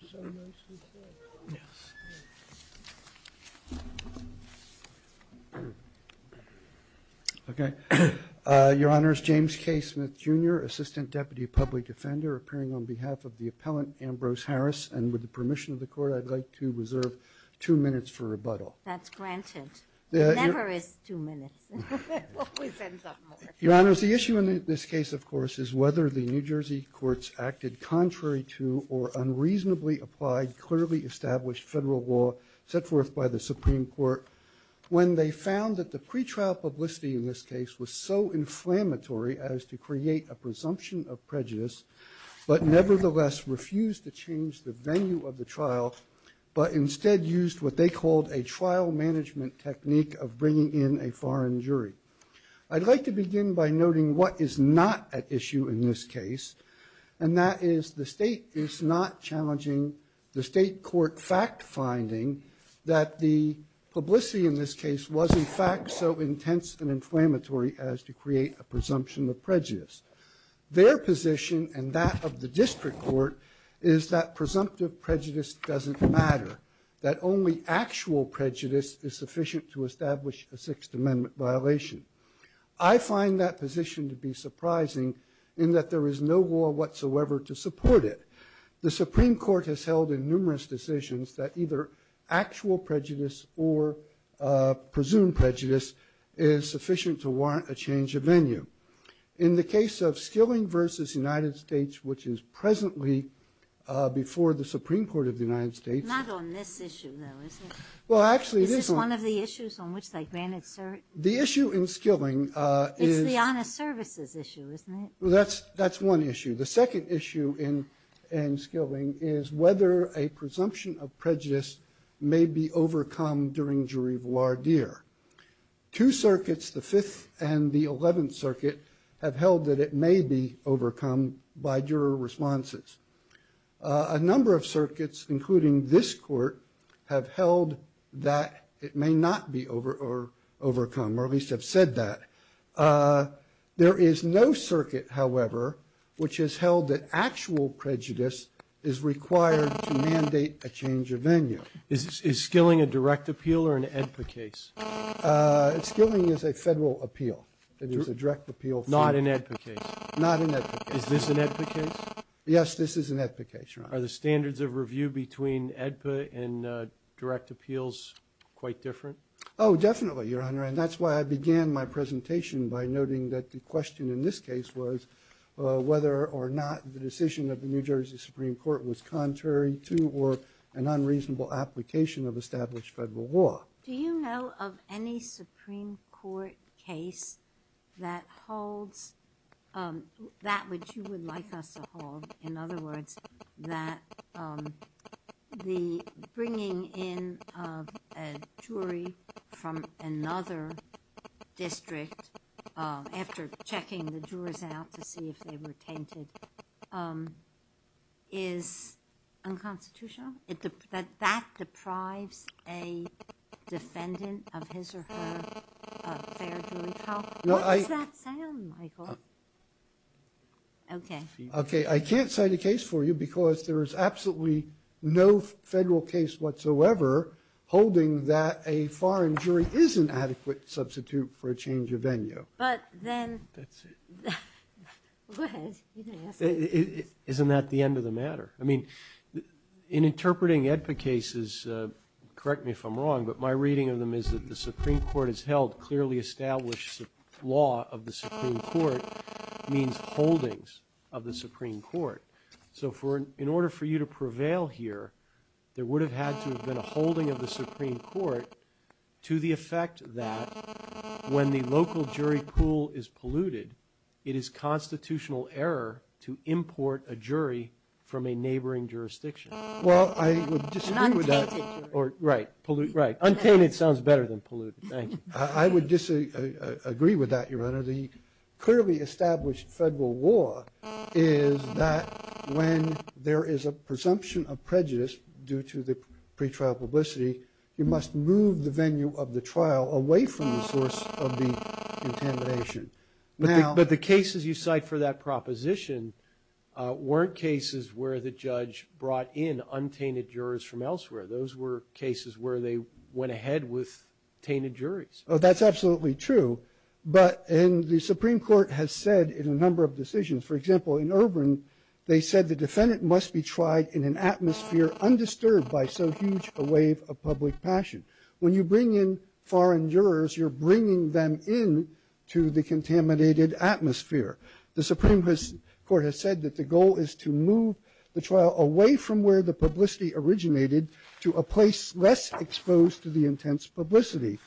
Your Honor, the issue in this case, of course, is whether the New Jersey courts acted contrary to or unreasonably applied clearly established federal law set forth by the Supreme Court when they found that the pretrial publicity in this case was so inflammatory as to create a presumption of prejudice, but nevertheless refused to change the venue of the trial, but instead used what they called a trial management technique of bringing in a foreign jury. I'd like to begin by noting what is not at issue in this case, and that is the State is not challenging the State court fact-finding that the publicity in this case was, in fact, so intense and inflammatory as to create a presumption of prejudice. Their position and that of the district court is that presumptive prejudice doesn't matter, that only actual prejudice is sufficient to establish a Sixth Amendment violation. I find that position to be surprising in that there is no law whatsoever to support it. The Supreme Court has held in numerous decisions that either actual prejudice or presumed prejudice is sufficient to warrant a change of venue. In the case of Skilling v. United States, which is presently before the Supreme Court of the United States. Not on this issue, though, is it? Well, actually, this one. Is this one of the issues on which they granted cert? The issue in Skilling is... It's the honest services issue, isn't it? That's one issue. The second issue in Skilling is whether a presumption of prejudice may be overcome during jury voir dire. Two circuits, the Fifth and the Eleventh Circuit, have held that it may be overcome by juror responses. A number of circuits, including this court, have held that it may not be overcome, or at least have said that. There is no circuit, however, which has held that actual prejudice is required to mandate a change of venue. Is Skilling a direct appeal or an AEDPA case? Skilling is a federal appeal. It is a direct appeal. Not an AEDPA case? Not an AEDPA case. Is this an AEDPA case? Yes, this is an AEDPA case, Your Honor. Are the standards of review between AEDPA and direct appeals quite different? Oh, definitely, Your Honor, and that's why I began my presentation by noting that the question in this case was whether or not the decision of the New Jersey Supreme Court was contrary to or an unreasonable application of established federal law. Do you know of any Supreme Court case that holds that which you would like us to hold? In other words, that the bringing in of a jury from another district after checking the jurors out to see if they were tainted is unconstitutional? That that deprives a defendant of his or her fair jury trial? What does that sound like, Michael? Okay. Okay, I can't cite a case for you because there is absolutely no federal case whatsoever holding that a foreign jury is an adequate substitute for a change of venue. But then... That's it. Go ahead. You can ask. Isn't that the end of the matter? I mean, in interpreting AEDPA cases, correct me if I'm wrong, but my reading of them is that the Supreme Court has held clearly established law of the Supreme Court means holdings of the Supreme Court. So in order for you to prevail here, there would have had to have been a holding of the Supreme Court to the effect that when the local jury pool is polluted, it is constitutional error to import a jury from a neighboring jurisdiction. Well, I would disagree with that. An untainted jury. Right. Right. Untainted sounds better than polluted. Thank you. I would disagree with that, Your Honor. The clearly established federal law is that when there is a presumption of prejudice due to the pretrial publicity, you must move the venue of the trial away from the source of the contamination. But the cases you cite for that proposition weren't cases where the judge brought in untainted jurors from elsewhere. Those were cases where they went ahead with tainted juries. That's absolutely true. But the Supreme Court has said in a number of decisions, for example, in Ervin, they said the defendant must be tried in an atmosphere undisturbed by so huge a wave of public passion. When you bring in foreign jurors, you're bringing them in to the contaminated atmosphere. The Supreme Court has said that the goal is to move the trial away from where the publicity originated to a place less exposed to the intense publicity.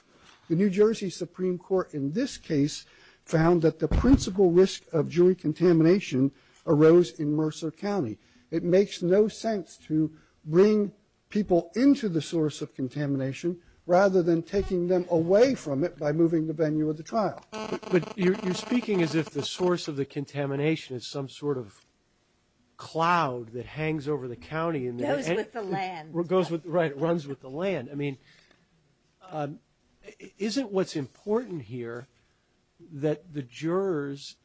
The New Jersey Supreme Court in this case found that the principal risk of jury contamination arose in Mercer County. It makes no sense to bring people into the source of contamination rather than taking them away from it by moving the venue of the trial. But you're speaking as if the source of the contamination is some sort of cloud that hangs over the county and goes with the land. Right, runs with the land. I mean, isn't what's important here that the jurors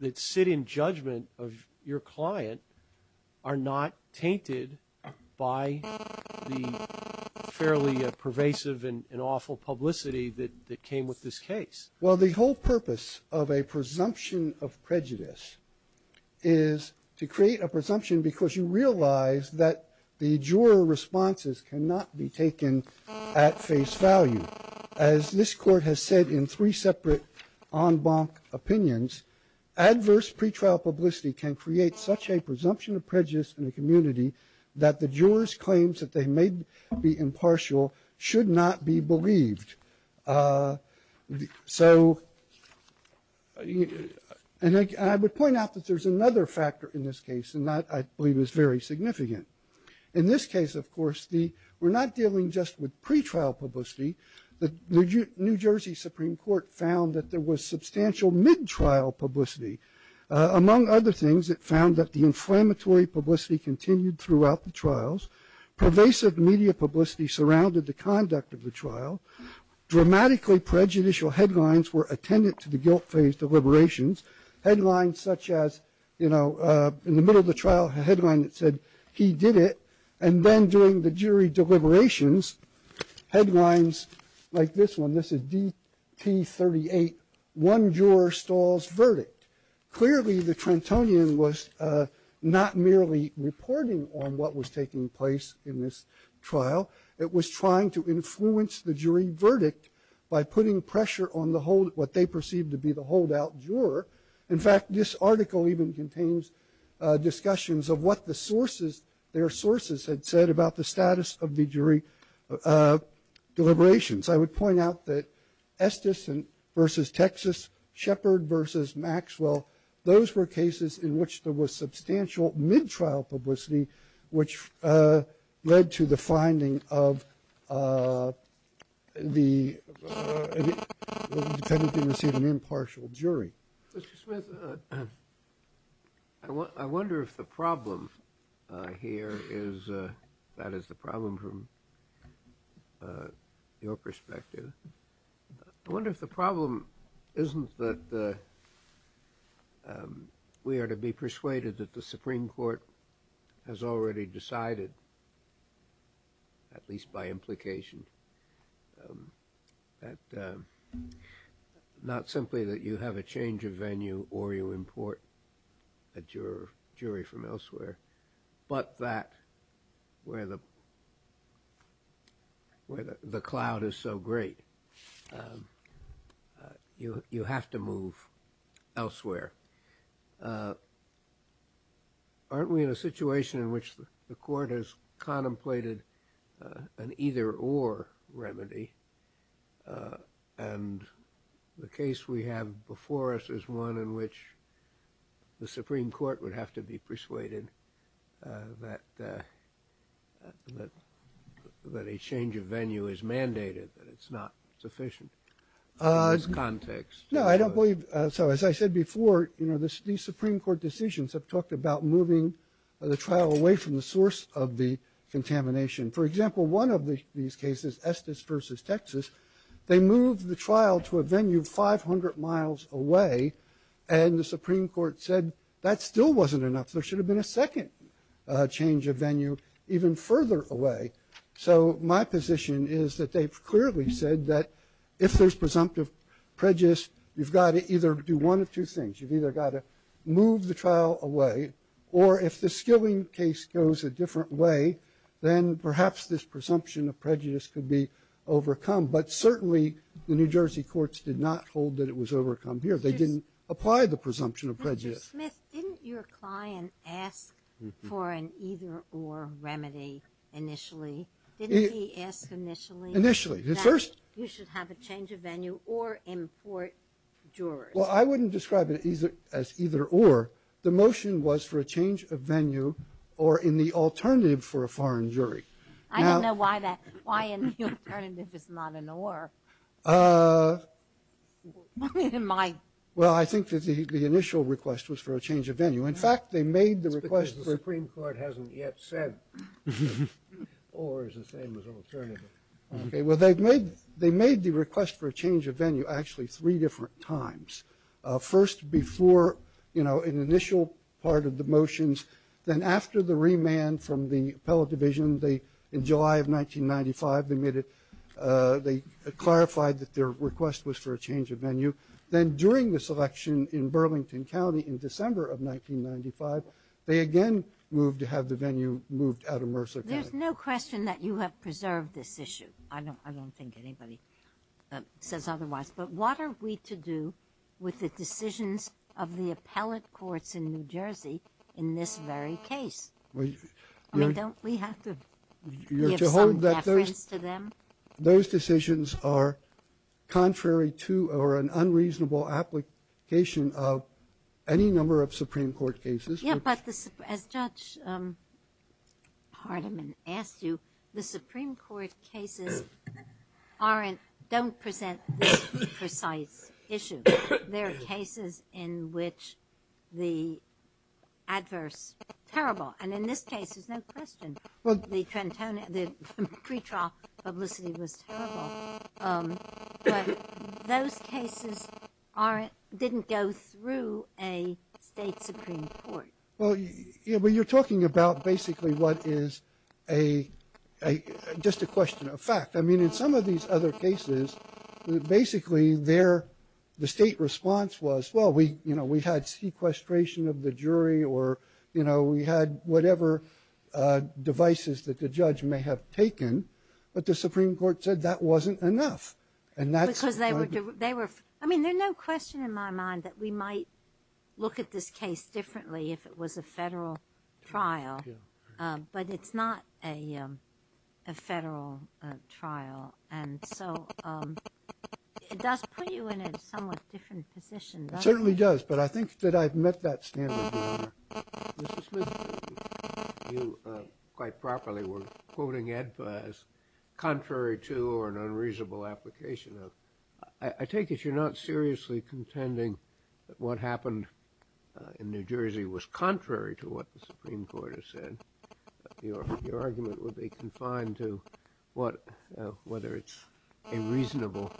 that sit in judgment of your client are not tainted by the fairly pervasive and awful publicity that came with this case? Well, the whole purpose of a presumption of prejudice is to create a presumption because you realize that the juror responses cannot be taken at face value. As this court has said in three separate en banc opinions, adverse pretrial publicity can create such a presumption of prejudice in a community that the jurors' claims that they may be impartial should not be believed. So, and I would point out that there's another factor in this case, and that I believe is very significant. In this case, of course, we're not dealing just with pretrial publicity. The New Jersey Supreme Court found that there was substantial mid-trial publicity. Among other things, it found that the inflammatory publicity continued throughout the trials. Pervasive media publicity surrounded the conduct of the trial. Dramatically prejudicial headlines were attendant to the guilt phase deliberations. Headlines such as, you know, in the middle of the trial, a headline that said, he did it. And then during the jury deliberations, headlines like this one. This is DT38, one juror stalls verdict. Clearly, the Trentonian was not merely reporting on what was taking place in this trial. It was trying to influence the jury verdict by putting pressure on the hold, what they perceived to be the holdout juror. In fact, this article even contains discussions of what the sources, their sources had said about the status of the jury deliberations. I would point out that Estes versus Texas, Shepard versus Maxwell, those were cases in which there was substantial mid-trial publicity, which led to the finding of the, the defendant being received an impartial jury. Mr. Smith, I wonder if the problem here is, that is the problem from your perspective. I wonder if the problem isn't that we are to be persuaded that the Supreme Court has or you import a jury from elsewhere, but that where the, where the cloud is so great, you have to move elsewhere. Aren't we in a situation in which the court has contemplated an either-or remedy, and the case we have before us is one in which the Supreme Court would have to be persuaded that, that, that a change of venue is mandated, that it's not sufficient in this context. No, I don't believe, so as I said before, you know, these Supreme Court decisions have talked about moving the trial away from the source of the contamination. For example, one of the, these cases, Estes versus Texas, they moved the trial to a venue 500 miles away, and the Supreme Court said that still wasn't enough, there should have been a second change of venue even further away. So my position is that they've clearly said that if there's presumptive prejudice, you've got to either do one of two things, you've either got to move the trial away, or if the perhaps this presumption of prejudice could be overcome, but certainly the New Jersey courts did not hold that it was overcome here, they didn't apply the presumption of prejudice. Dr. Smith, didn't your client ask for an either-or remedy initially, didn't he ask initially that you should have a change of venue, or import jurors? Well, I wouldn't describe it as either-or, the motion was for a change of venue, or in fact, the alternative for a foreign jury. I don't know why that, why an alternative is not an or. Well I think that the initial request was for a change of venue, in fact, they made the request. It's because the Supreme Court hasn't yet said or is the same as alternative. Okay, well they've made, they made the request for a change of venue actually three different times. First before, you know, an initial part of the motions, then after the remand from the appellate division, they, in July of 1995, they made it, they clarified that their request was for a change of venue, then during this election in Burlington County in December of 1995, they again moved to have the venue moved out of Mercer County. There's no question that you have preserved this issue, I don't think anybody says otherwise, but what are we to do with the decisions of the appellate courts in New Jersey in this very case? I mean, don't we have to give some deference to them? Those decisions are contrary to or an unreasonable application of any number of Supreme Court cases. Yeah, but as Judge Hardiman asked you, the Supreme Court cases aren't, don't present this precise issue. There are cases in which the adverse, terrible, and in this case, there's no question, the pre-trial publicity was terrible, but those cases aren't, didn't go through a state Supreme Court. Well, you know, but you're talking about basically what is a, just a question of fact, I mean in some of these other cases, basically their, the state response was, well, we, you know, we had sequestration of the jury or, you know, we had whatever devices that the judge may have taken, but the Supreme Court said that wasn't enough. And that's- Because they were, they were, I mean, there's no question in my mind that we might look at this case differently if it was a federal trial, but it's not a, a federal trial. And so, it does put you in a somewhat different position, doesn't it? It certainly does, but I think that I've met that standard, Your Honor. Mr. Smith, you quite properly were quoting EDPA as contrary to or an unreasonable application of. I, I take it you're not seriously contending that what happened in New Jersey was contrary to what the Supreme Court has said. Your, your argument would be confined to what, whether it's a reasonable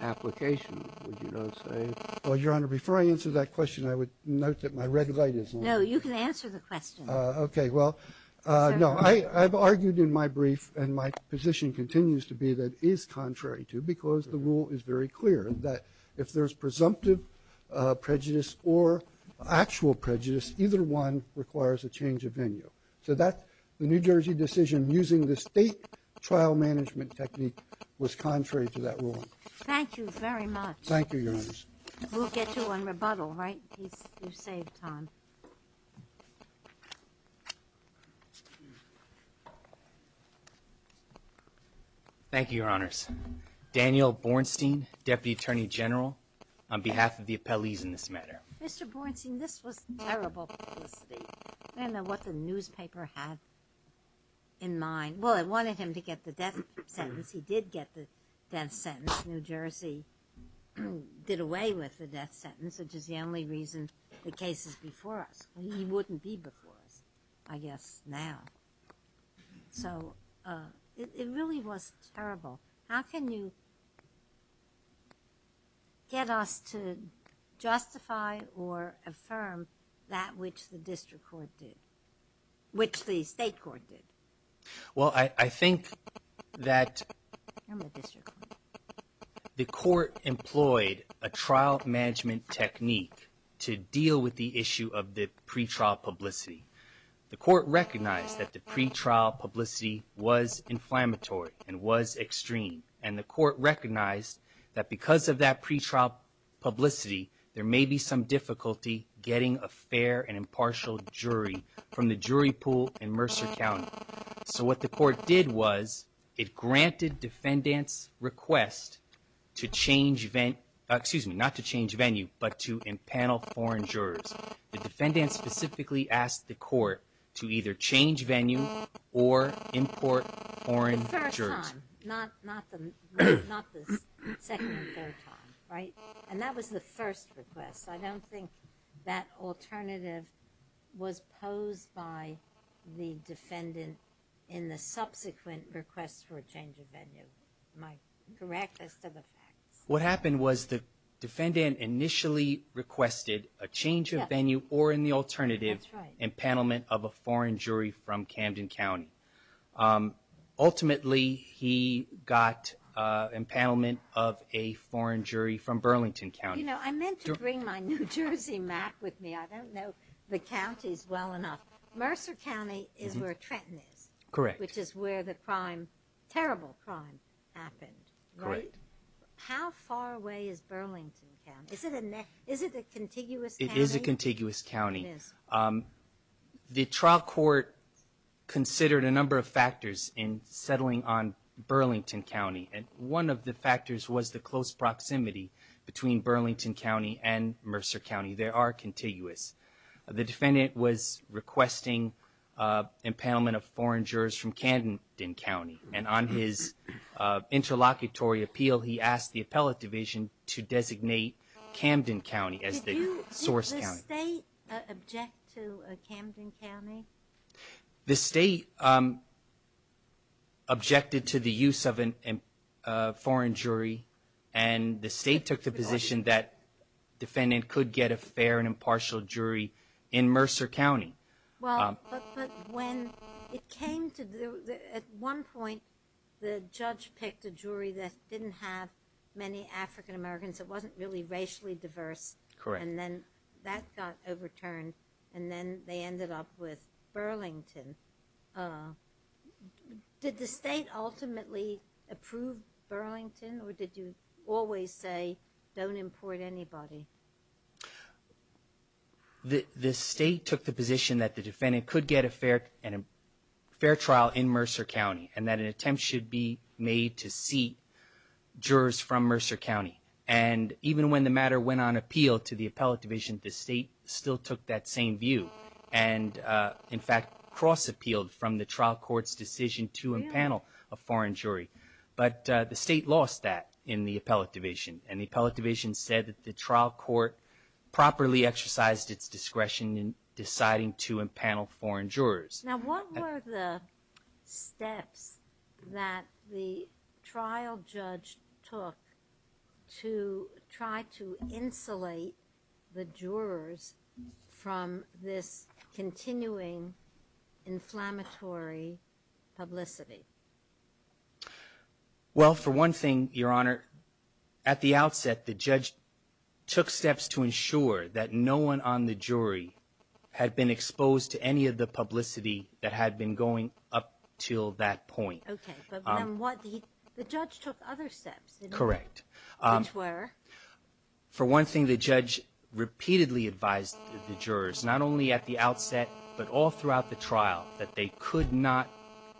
application, would you not say? Well, Your Honor, before I answer that question, I would note that my red light is on. No. You can answer the question. Okay. Well, no, I, I've argued in my brief and my position continues to be that it is contrary to, because the rule is very clear that if there's presumptive prejudice or actual prejudice, either one requires a change of venue. So that, the New Jersey decision using the state trial management technique was contrary to that rule. Thank you very much. Thank you, Your Honors. We'll get you on rebuttal, right? You've saved time. Thank you, Your Honors. Daniel Bornstein, Deputy Attorney General, on behalf of the appellees in this matter. Mr. Bornstein, this was terrible publicity. I don't know what the newspaper had in mind. Well, it wanted him to get the death sentence. He did get the death sentence. New Jersey did away with the death sentence, which is the only reason the case is before us. He wouldn't be before us, I guess, now. So, it really was terrible. How can you get us to justify or affirm that which the district court did, which the state court did? Well, I think that the court employed a trial management technique to deal with the issue of the pretrial publicity. The court recognized that the pretrial publicity was inflammatory and was extreme. And the court recognized that because of that pretrial publicity, there may be some difficulty getting a fair and impartial jury from the jury pool in Mercer County. So, what the court did was, it granted defendants' request to change, excuse me, not to change venue, but to impanel foreign jurors. The defendant specifically asked the court to either change venue or import foreign jurors. The first time, not the second and third time, right? And that was the first request. I don't think that alternative was posed by the defendant in the subsequent request for a change of venue. Am I correct as to the facts? What happened was the defendant initially requested a change of venue or in the alternative impanelment of a foreign jury from Camden County. Ultimately, he got impanelment of a foreign jury from Burlington County. You know, I meant to bring my New Jersey map with me. I don't know the counties well enough. Mercer County is where Trenton is. Correct. Which is where the crime, terrible crime happened. Correct. How far away is Burlington County? Is it a contiguous county? It is a contiguous county. The trial court considered a number of factors in settling on Burlington County. And one of the factors was the close proximity between Burlington County and Mercer County. They are contiguous. The defendant was requesting impanelment of foreign jurors from Camden County. And on his interlocutory appeal, he asked the appellate division to designate Camden County as the source county. Did the state object to Camden County? The state objected to the use of a foreign jury. And the state took the position that the defendant could get a fair and impartial jury in Mercer County. At one point, the judge picked a jury that didn't have many African Americans. It wasn't really racially diverse. Correct. And then that got overturned. And then they ended up with Burlington. Did the state ultimately approve Burlington? Or did you always say, don't import anybody? The state took the position that the defendant could get a fair trial in Mercer County. And that an attempt should be made to seat jurors from Mercer County. And even when the matter went on appeal to the appellate division, the state still took that same view. And, in fact, cross-appealed from the trial court's decision to impanel a foreign jury. But the state lost that in the appellate division. And the appellate division said that the trial court properly exercised its discretion in deciding to impanel foreign jurors. Now, what were the steps that the trial judge took to try to insulate the jurors from this continuing inflammatory publicity? Well, for one thing, Your Honor, at the outset, the judge took steps to ensure that no one on the jury had been exposed to any of the publicity that had been going up till that point. Okay. But then the judge took other steps. Correct. Which were? For one thing, the judge repeatedly advised the jurors, not only at the outset, but all throughout the trial, that they could not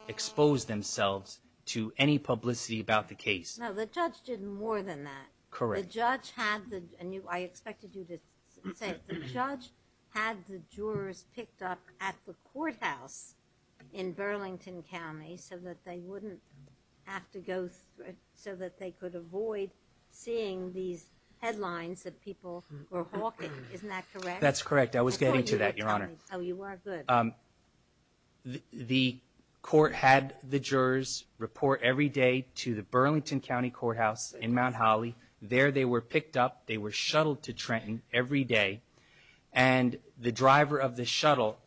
expose themselves to any publicity about the case. No, the judge did more than that. Correct. The judge had the, and I expected you to say, the judge had the jurors picked up at the courthouse in Burlington County so that they wouldn't have to go through, so that they could avoid seeing these headlines that people were hawking. Isn't that correct? That's correct. I was getting to that, Your Honor. Oh, you are? Good. The court had the jurors report every day to the Burlington County courthouse in Mount Holly. There they were picked up. They were shuttled to Trenton every day. And the driver of the shuttle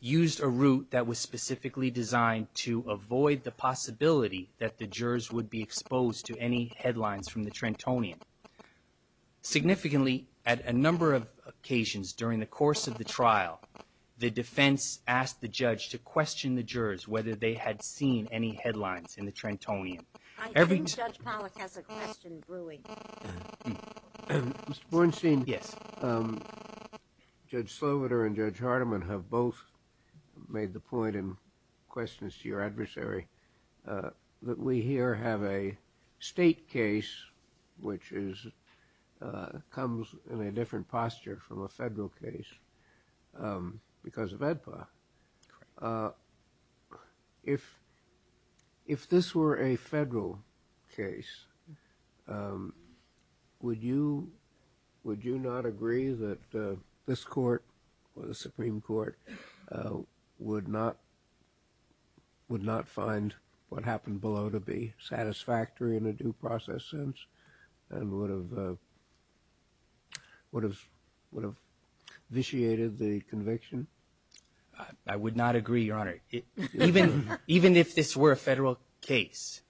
used a route that was specifically designed to avoid the possibility that the jurors would be exposed to any headlines from the Trentonian. Significantly, at a number of occasions during the course of the trial, the defense asked the judge to question the jurors whether they had seen any headlines in the Trentonian. I think Judge Pollack has a question brewing. Mr. Bornstein? Yes. Judge Sloviter and Judge Hardiman have both made the point in questions to your adversary that we here have a state case which comes in a different posture from a federal case because of AEDPA. Correct. If this were a federal case, would you not agree that this court or the Supreme Court would not find what happened below to be satisfactory in a due process sense and would have vitiated the conviction? I would not agree, Your Honor. Even if this were a federal case,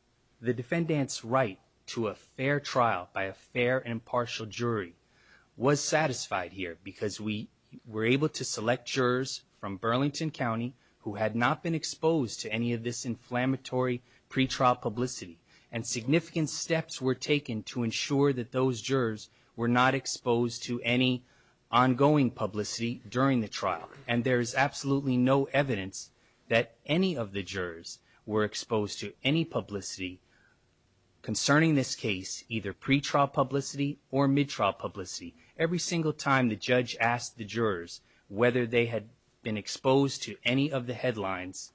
the defendant's right to a fair trial by a fair and impartial jury was satisfied here because we were able to select jurors from Burlington County who had not been exposed to any of this inflammatory pretrial publicity. And significant steps were taken to ensure that those jurors were not exposed to any ongoing publicity during the trial. And there is absolutely no evidence that any of the jurors were exposed to any publicity concerning this case, either pretrial publicity or mid-trial publicity. Every single time the judge asked the jurors whether they had been exposed to any of the headlines,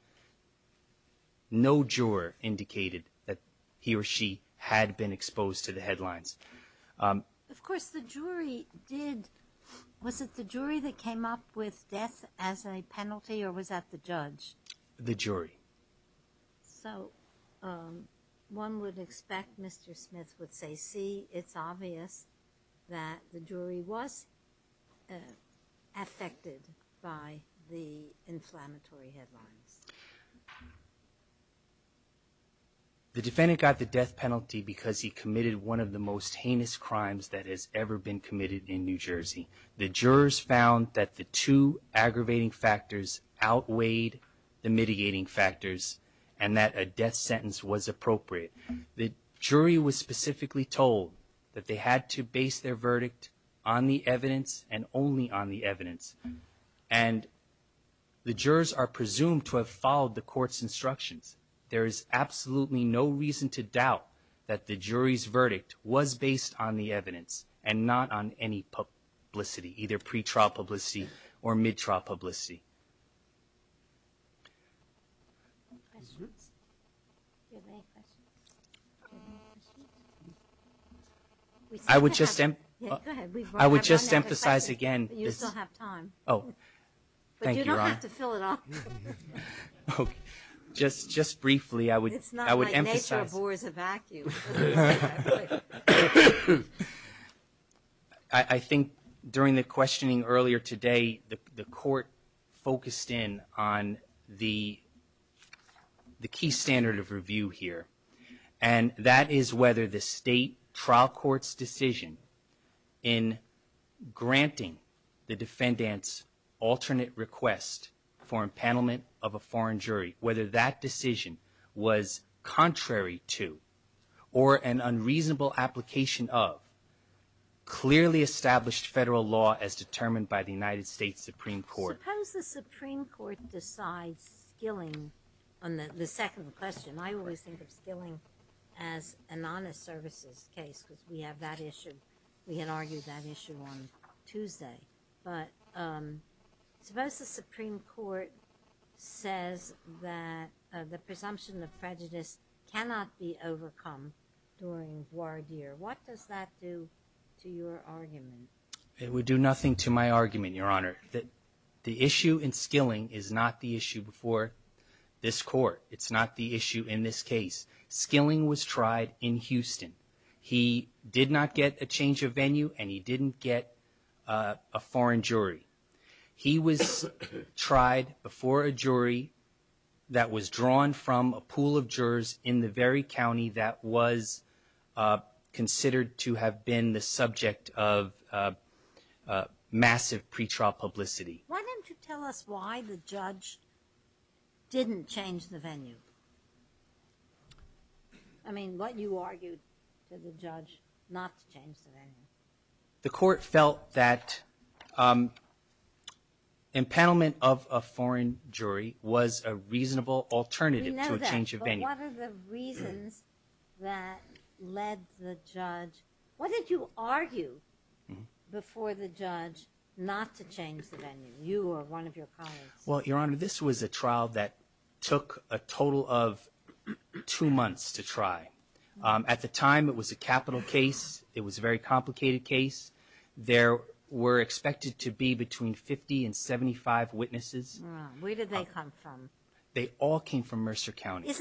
no juror indicated that he or she had been exposed to the headlines. Of course, the jury did. Was it the jury that came up with death as a penalty or was that the judge? The jury. So one would expect Mr. Smith would say, see, it's obvious that the jury was affected by the inflammatory headlines. The defendant got the death penalty because he committed one of the most heinous crimes that has ever been committed in New Jersey. The jurors found that the two aggravating factors outweighed the mitigating factors and that a death sentence was appropriate. The jury was specifically told that they had to base their verdict on the evidence and only on the evidence. And the jurors are presumed to have followed the court's instructions. There is absolutely no reason to doubt that the jury's verdict was based on the evidence and not on any publicity, either pretrial publicity or mid-trial publicity. Do you have any questions? I would just emphasize again. You still have time. Thank you, Your Honor. But you don't have to fill it up. Just briefly, I would emphasize. It's not like nature abhors a vacuum. I think during the questioning earlier today, the court focused in on the key standard of review here. And that is whether the state trial court's decision in granting the defendant's alternate request for impanelment of a foreign jury, whether that decision was contrary to or an unreasonable application of clearly established federal law as determined by the United States Supreme Court. Suppose the Supreme Court decides Skilling on the second question. I always think of Skilling as an honest services case because we have that issue. But suppose the Supreme Court says that the presumption of prejudice cannot be overcome during voir dire. What does that do to your argument? It would do nothing to my argument, Your Honor. The issue in Skilling is not the issue before this court. It's not the issue in this case. Skilling was tried in Houston. He did not get a change of venue and he didn't get a foreign jury. He was tried before a jury that was drawn from a pool of jurors in the very county that was considered to have been the subject of massive pretrial publicity. Why don't you tell us why the judge didn't change the venue? I mean, what you argued to the judge not to change the venue. The court felt that impanelment of a foreign jury was a reasonable alternative to a change of venue. We know that, but what are the reasons that led the judge? What did you argue before the judge not to change the venue? You or one of your colleagues? Well, Your Honor, this was a trial that took a total of two months to try. At the time, it was a capital case. It was a very complicated case. There were expected to be between 50 and 75 witnesses. Where did they come from? They all came from Mercer County.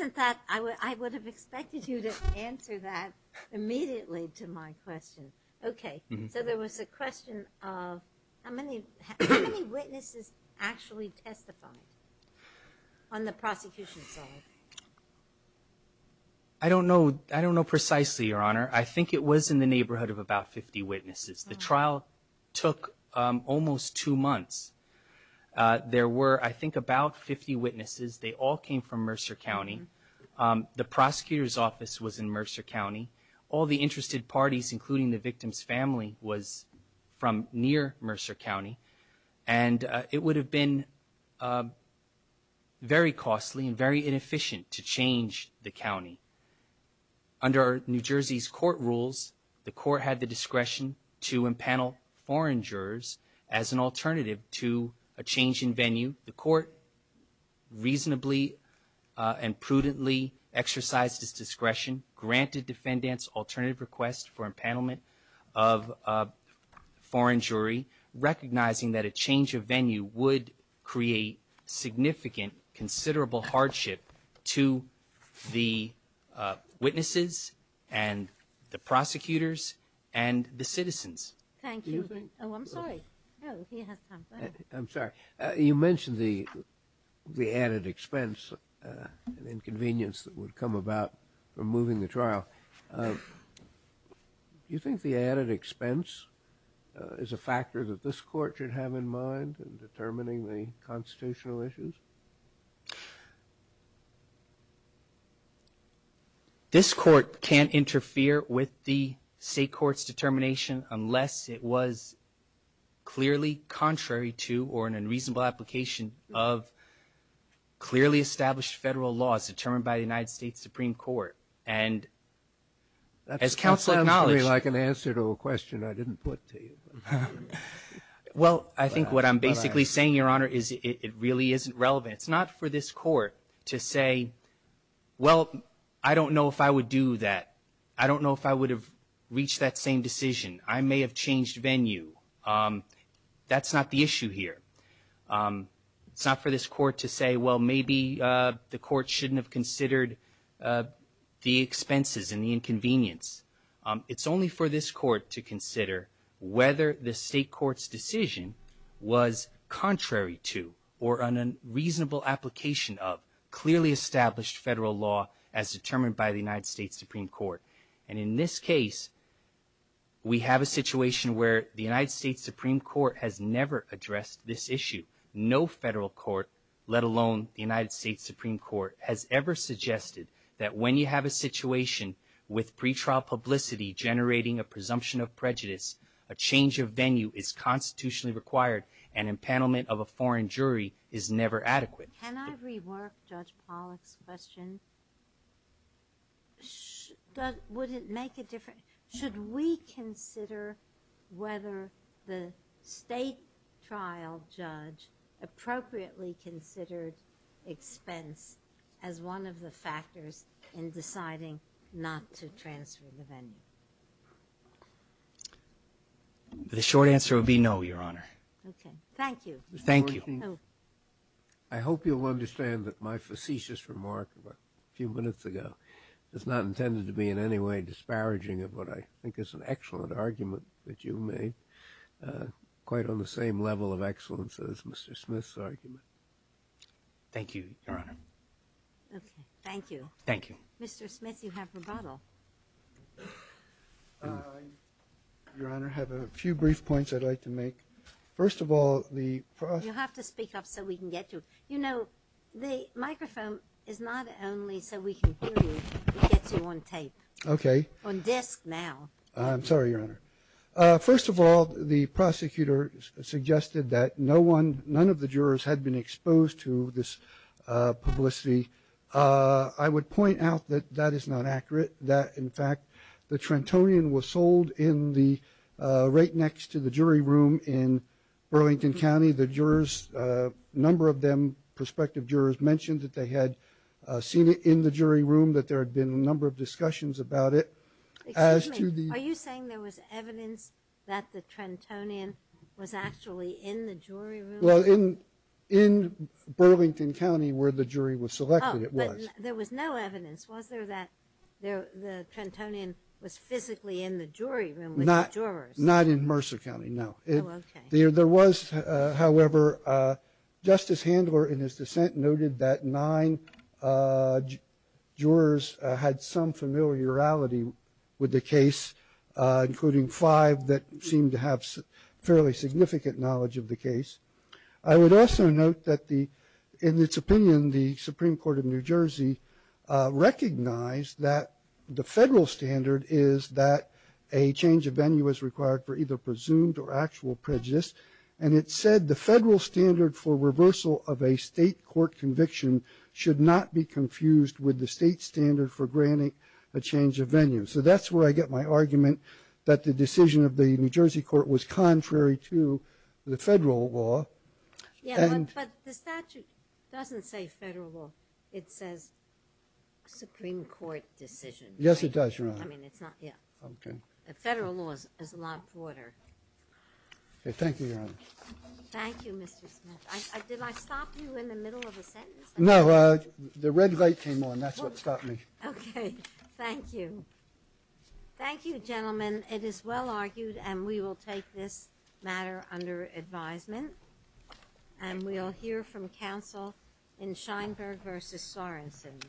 I would have expected you to answer that immediately to my question. Okay, so there was a question of how many witnesses actually testified on the prosecution side? I don't know. I don't know precisely, Your Honor. I think it was in the neighborhood of about 50 witnesses. The trial took almost two months. There were, I think, about 50 witnesses. They all came from Mercer County. The prosecutor's office was in Mercer County. All the interested parties, including the victim's family, was from near Mercer County. And it would have been very costly and very inefficient to change the county. Under New Jersey's court rules, the court had the discretion to impanel foreign jurors as an alternative to a change in venue. The court reasonably and prudently exercised its discretion, granted defendants alternative requests for impanelment of a foreign jury, recognizing that a change of venue would create significant, considerable hardship to the witnesses and the prosecutors and the citizens. Thank you. Oh, I'm sorry. I'm sorry. You mentioned the added expense and inconvenience that would come about from moving the trial. Do you think the added expense is a factor that this court should have in mind in determining the constitutional issues? This court can't interfere with the state court's determination unless it was clearly contrary to or in a reasonable application of clearly established federal laws determined by the United States Supreme Court. That sounds to me like an answer to a question I didn't put to you. Well, I think what I'm basically saying, Your Honor, is it really isn't relevant. It's not for this court to say, well, I don't know if I would do that. I don't know if I would have reached that same decision. I may have changed venue. That's not the issue here. It's not for this court to say, well, maybe the court shouldn't have considered the expenses and the inconvenience. It's only for this court to consider whether the state court's decision was contrary to or in a reasonable application of clearly established federal law as determined by the United States Supreme Court. And in this case, we have a situation where the United States Supreme Court has never addressed this issue. No federal court, let alone the United States Supreme Court, has ever suggested that when you have a situation with pretrial publicity generating a presumption of prejudice, a change of venue is constitutionally required and empanelment of a foreign jury is never adequate. Can I rework Judge Pollack's question? Would it make a difference? Should we consider whether the state trial judge appropriately considered expense as one of the factors in deciding not to transfer the venue? The short answer would be no, Your Honor. Thank you. Thank you. I hope you'll understand that my facetious remark a few minutes ago is not intended to be in any way disparaging of what I think is an excellent argument that you made, quite on the same level of excellence as Mr. Smith's argument. Thank you, Your Honor. Okay. Thank you. Thank you. Mr. Smith, you have rebuttal. Your Honor, I have a few brief points I'd like to make. You'll have to speak up so we can get you. You know, the microphone is not only so we can hear you, it gets you on tape. Okay. On disc now. I'm sorry, Your Honor. First of all, the prosecutor suggested that none of the jurors had been exposed to this publicity. I would point out that that is not accurate, that, in fact, the Trentonian was sold right next to the jury room in Burlington County. The jurors, a number of them, prospective jurors, mentioned that they had seen it in the jury room, that there had been a number of discussions about it. Excuse me. Are you saying there was evidence that the Trentonian was actually in the jury room? Well, in Burlington County where the jury was selected, it was. Oh, but there was no evidence. Was there that the Trentonian was physically in the jury room with the jurors? Not in Mercer County, no. Oh, okay. There was, however, Justice Handler, in his dissent, noted that nine jurors had some familiarity with the case, including five that seemed to have fairly significant knowledge of the case. I would also note that, in its opinion, the Supreme Court of New Jersey recognized that the federal standard is that a change of venue is required for either presumed or actual prejudice, and it said the federal standard for reversal of a state court conviction should not be confused with the state standard for granting a change of venue. So that's where I get my argument that the decision of the New Jersey court was contrary to the federal law. But the statute doesn't say federal law. It says Supreme Court decision. Yes, it does, Your Honor. Federal law is a lot broader. Thank you, Your Honor. Thank you, Mr. Smith. Did I stop you in the middle of a sentence? No, the red light came on. That's what stopped me. Okay. Thank you. Thank you, gentlemen. It is well argued, and we will take this matter under advisement, and we'll hear from counsel in Scheinberg v. Sorensen.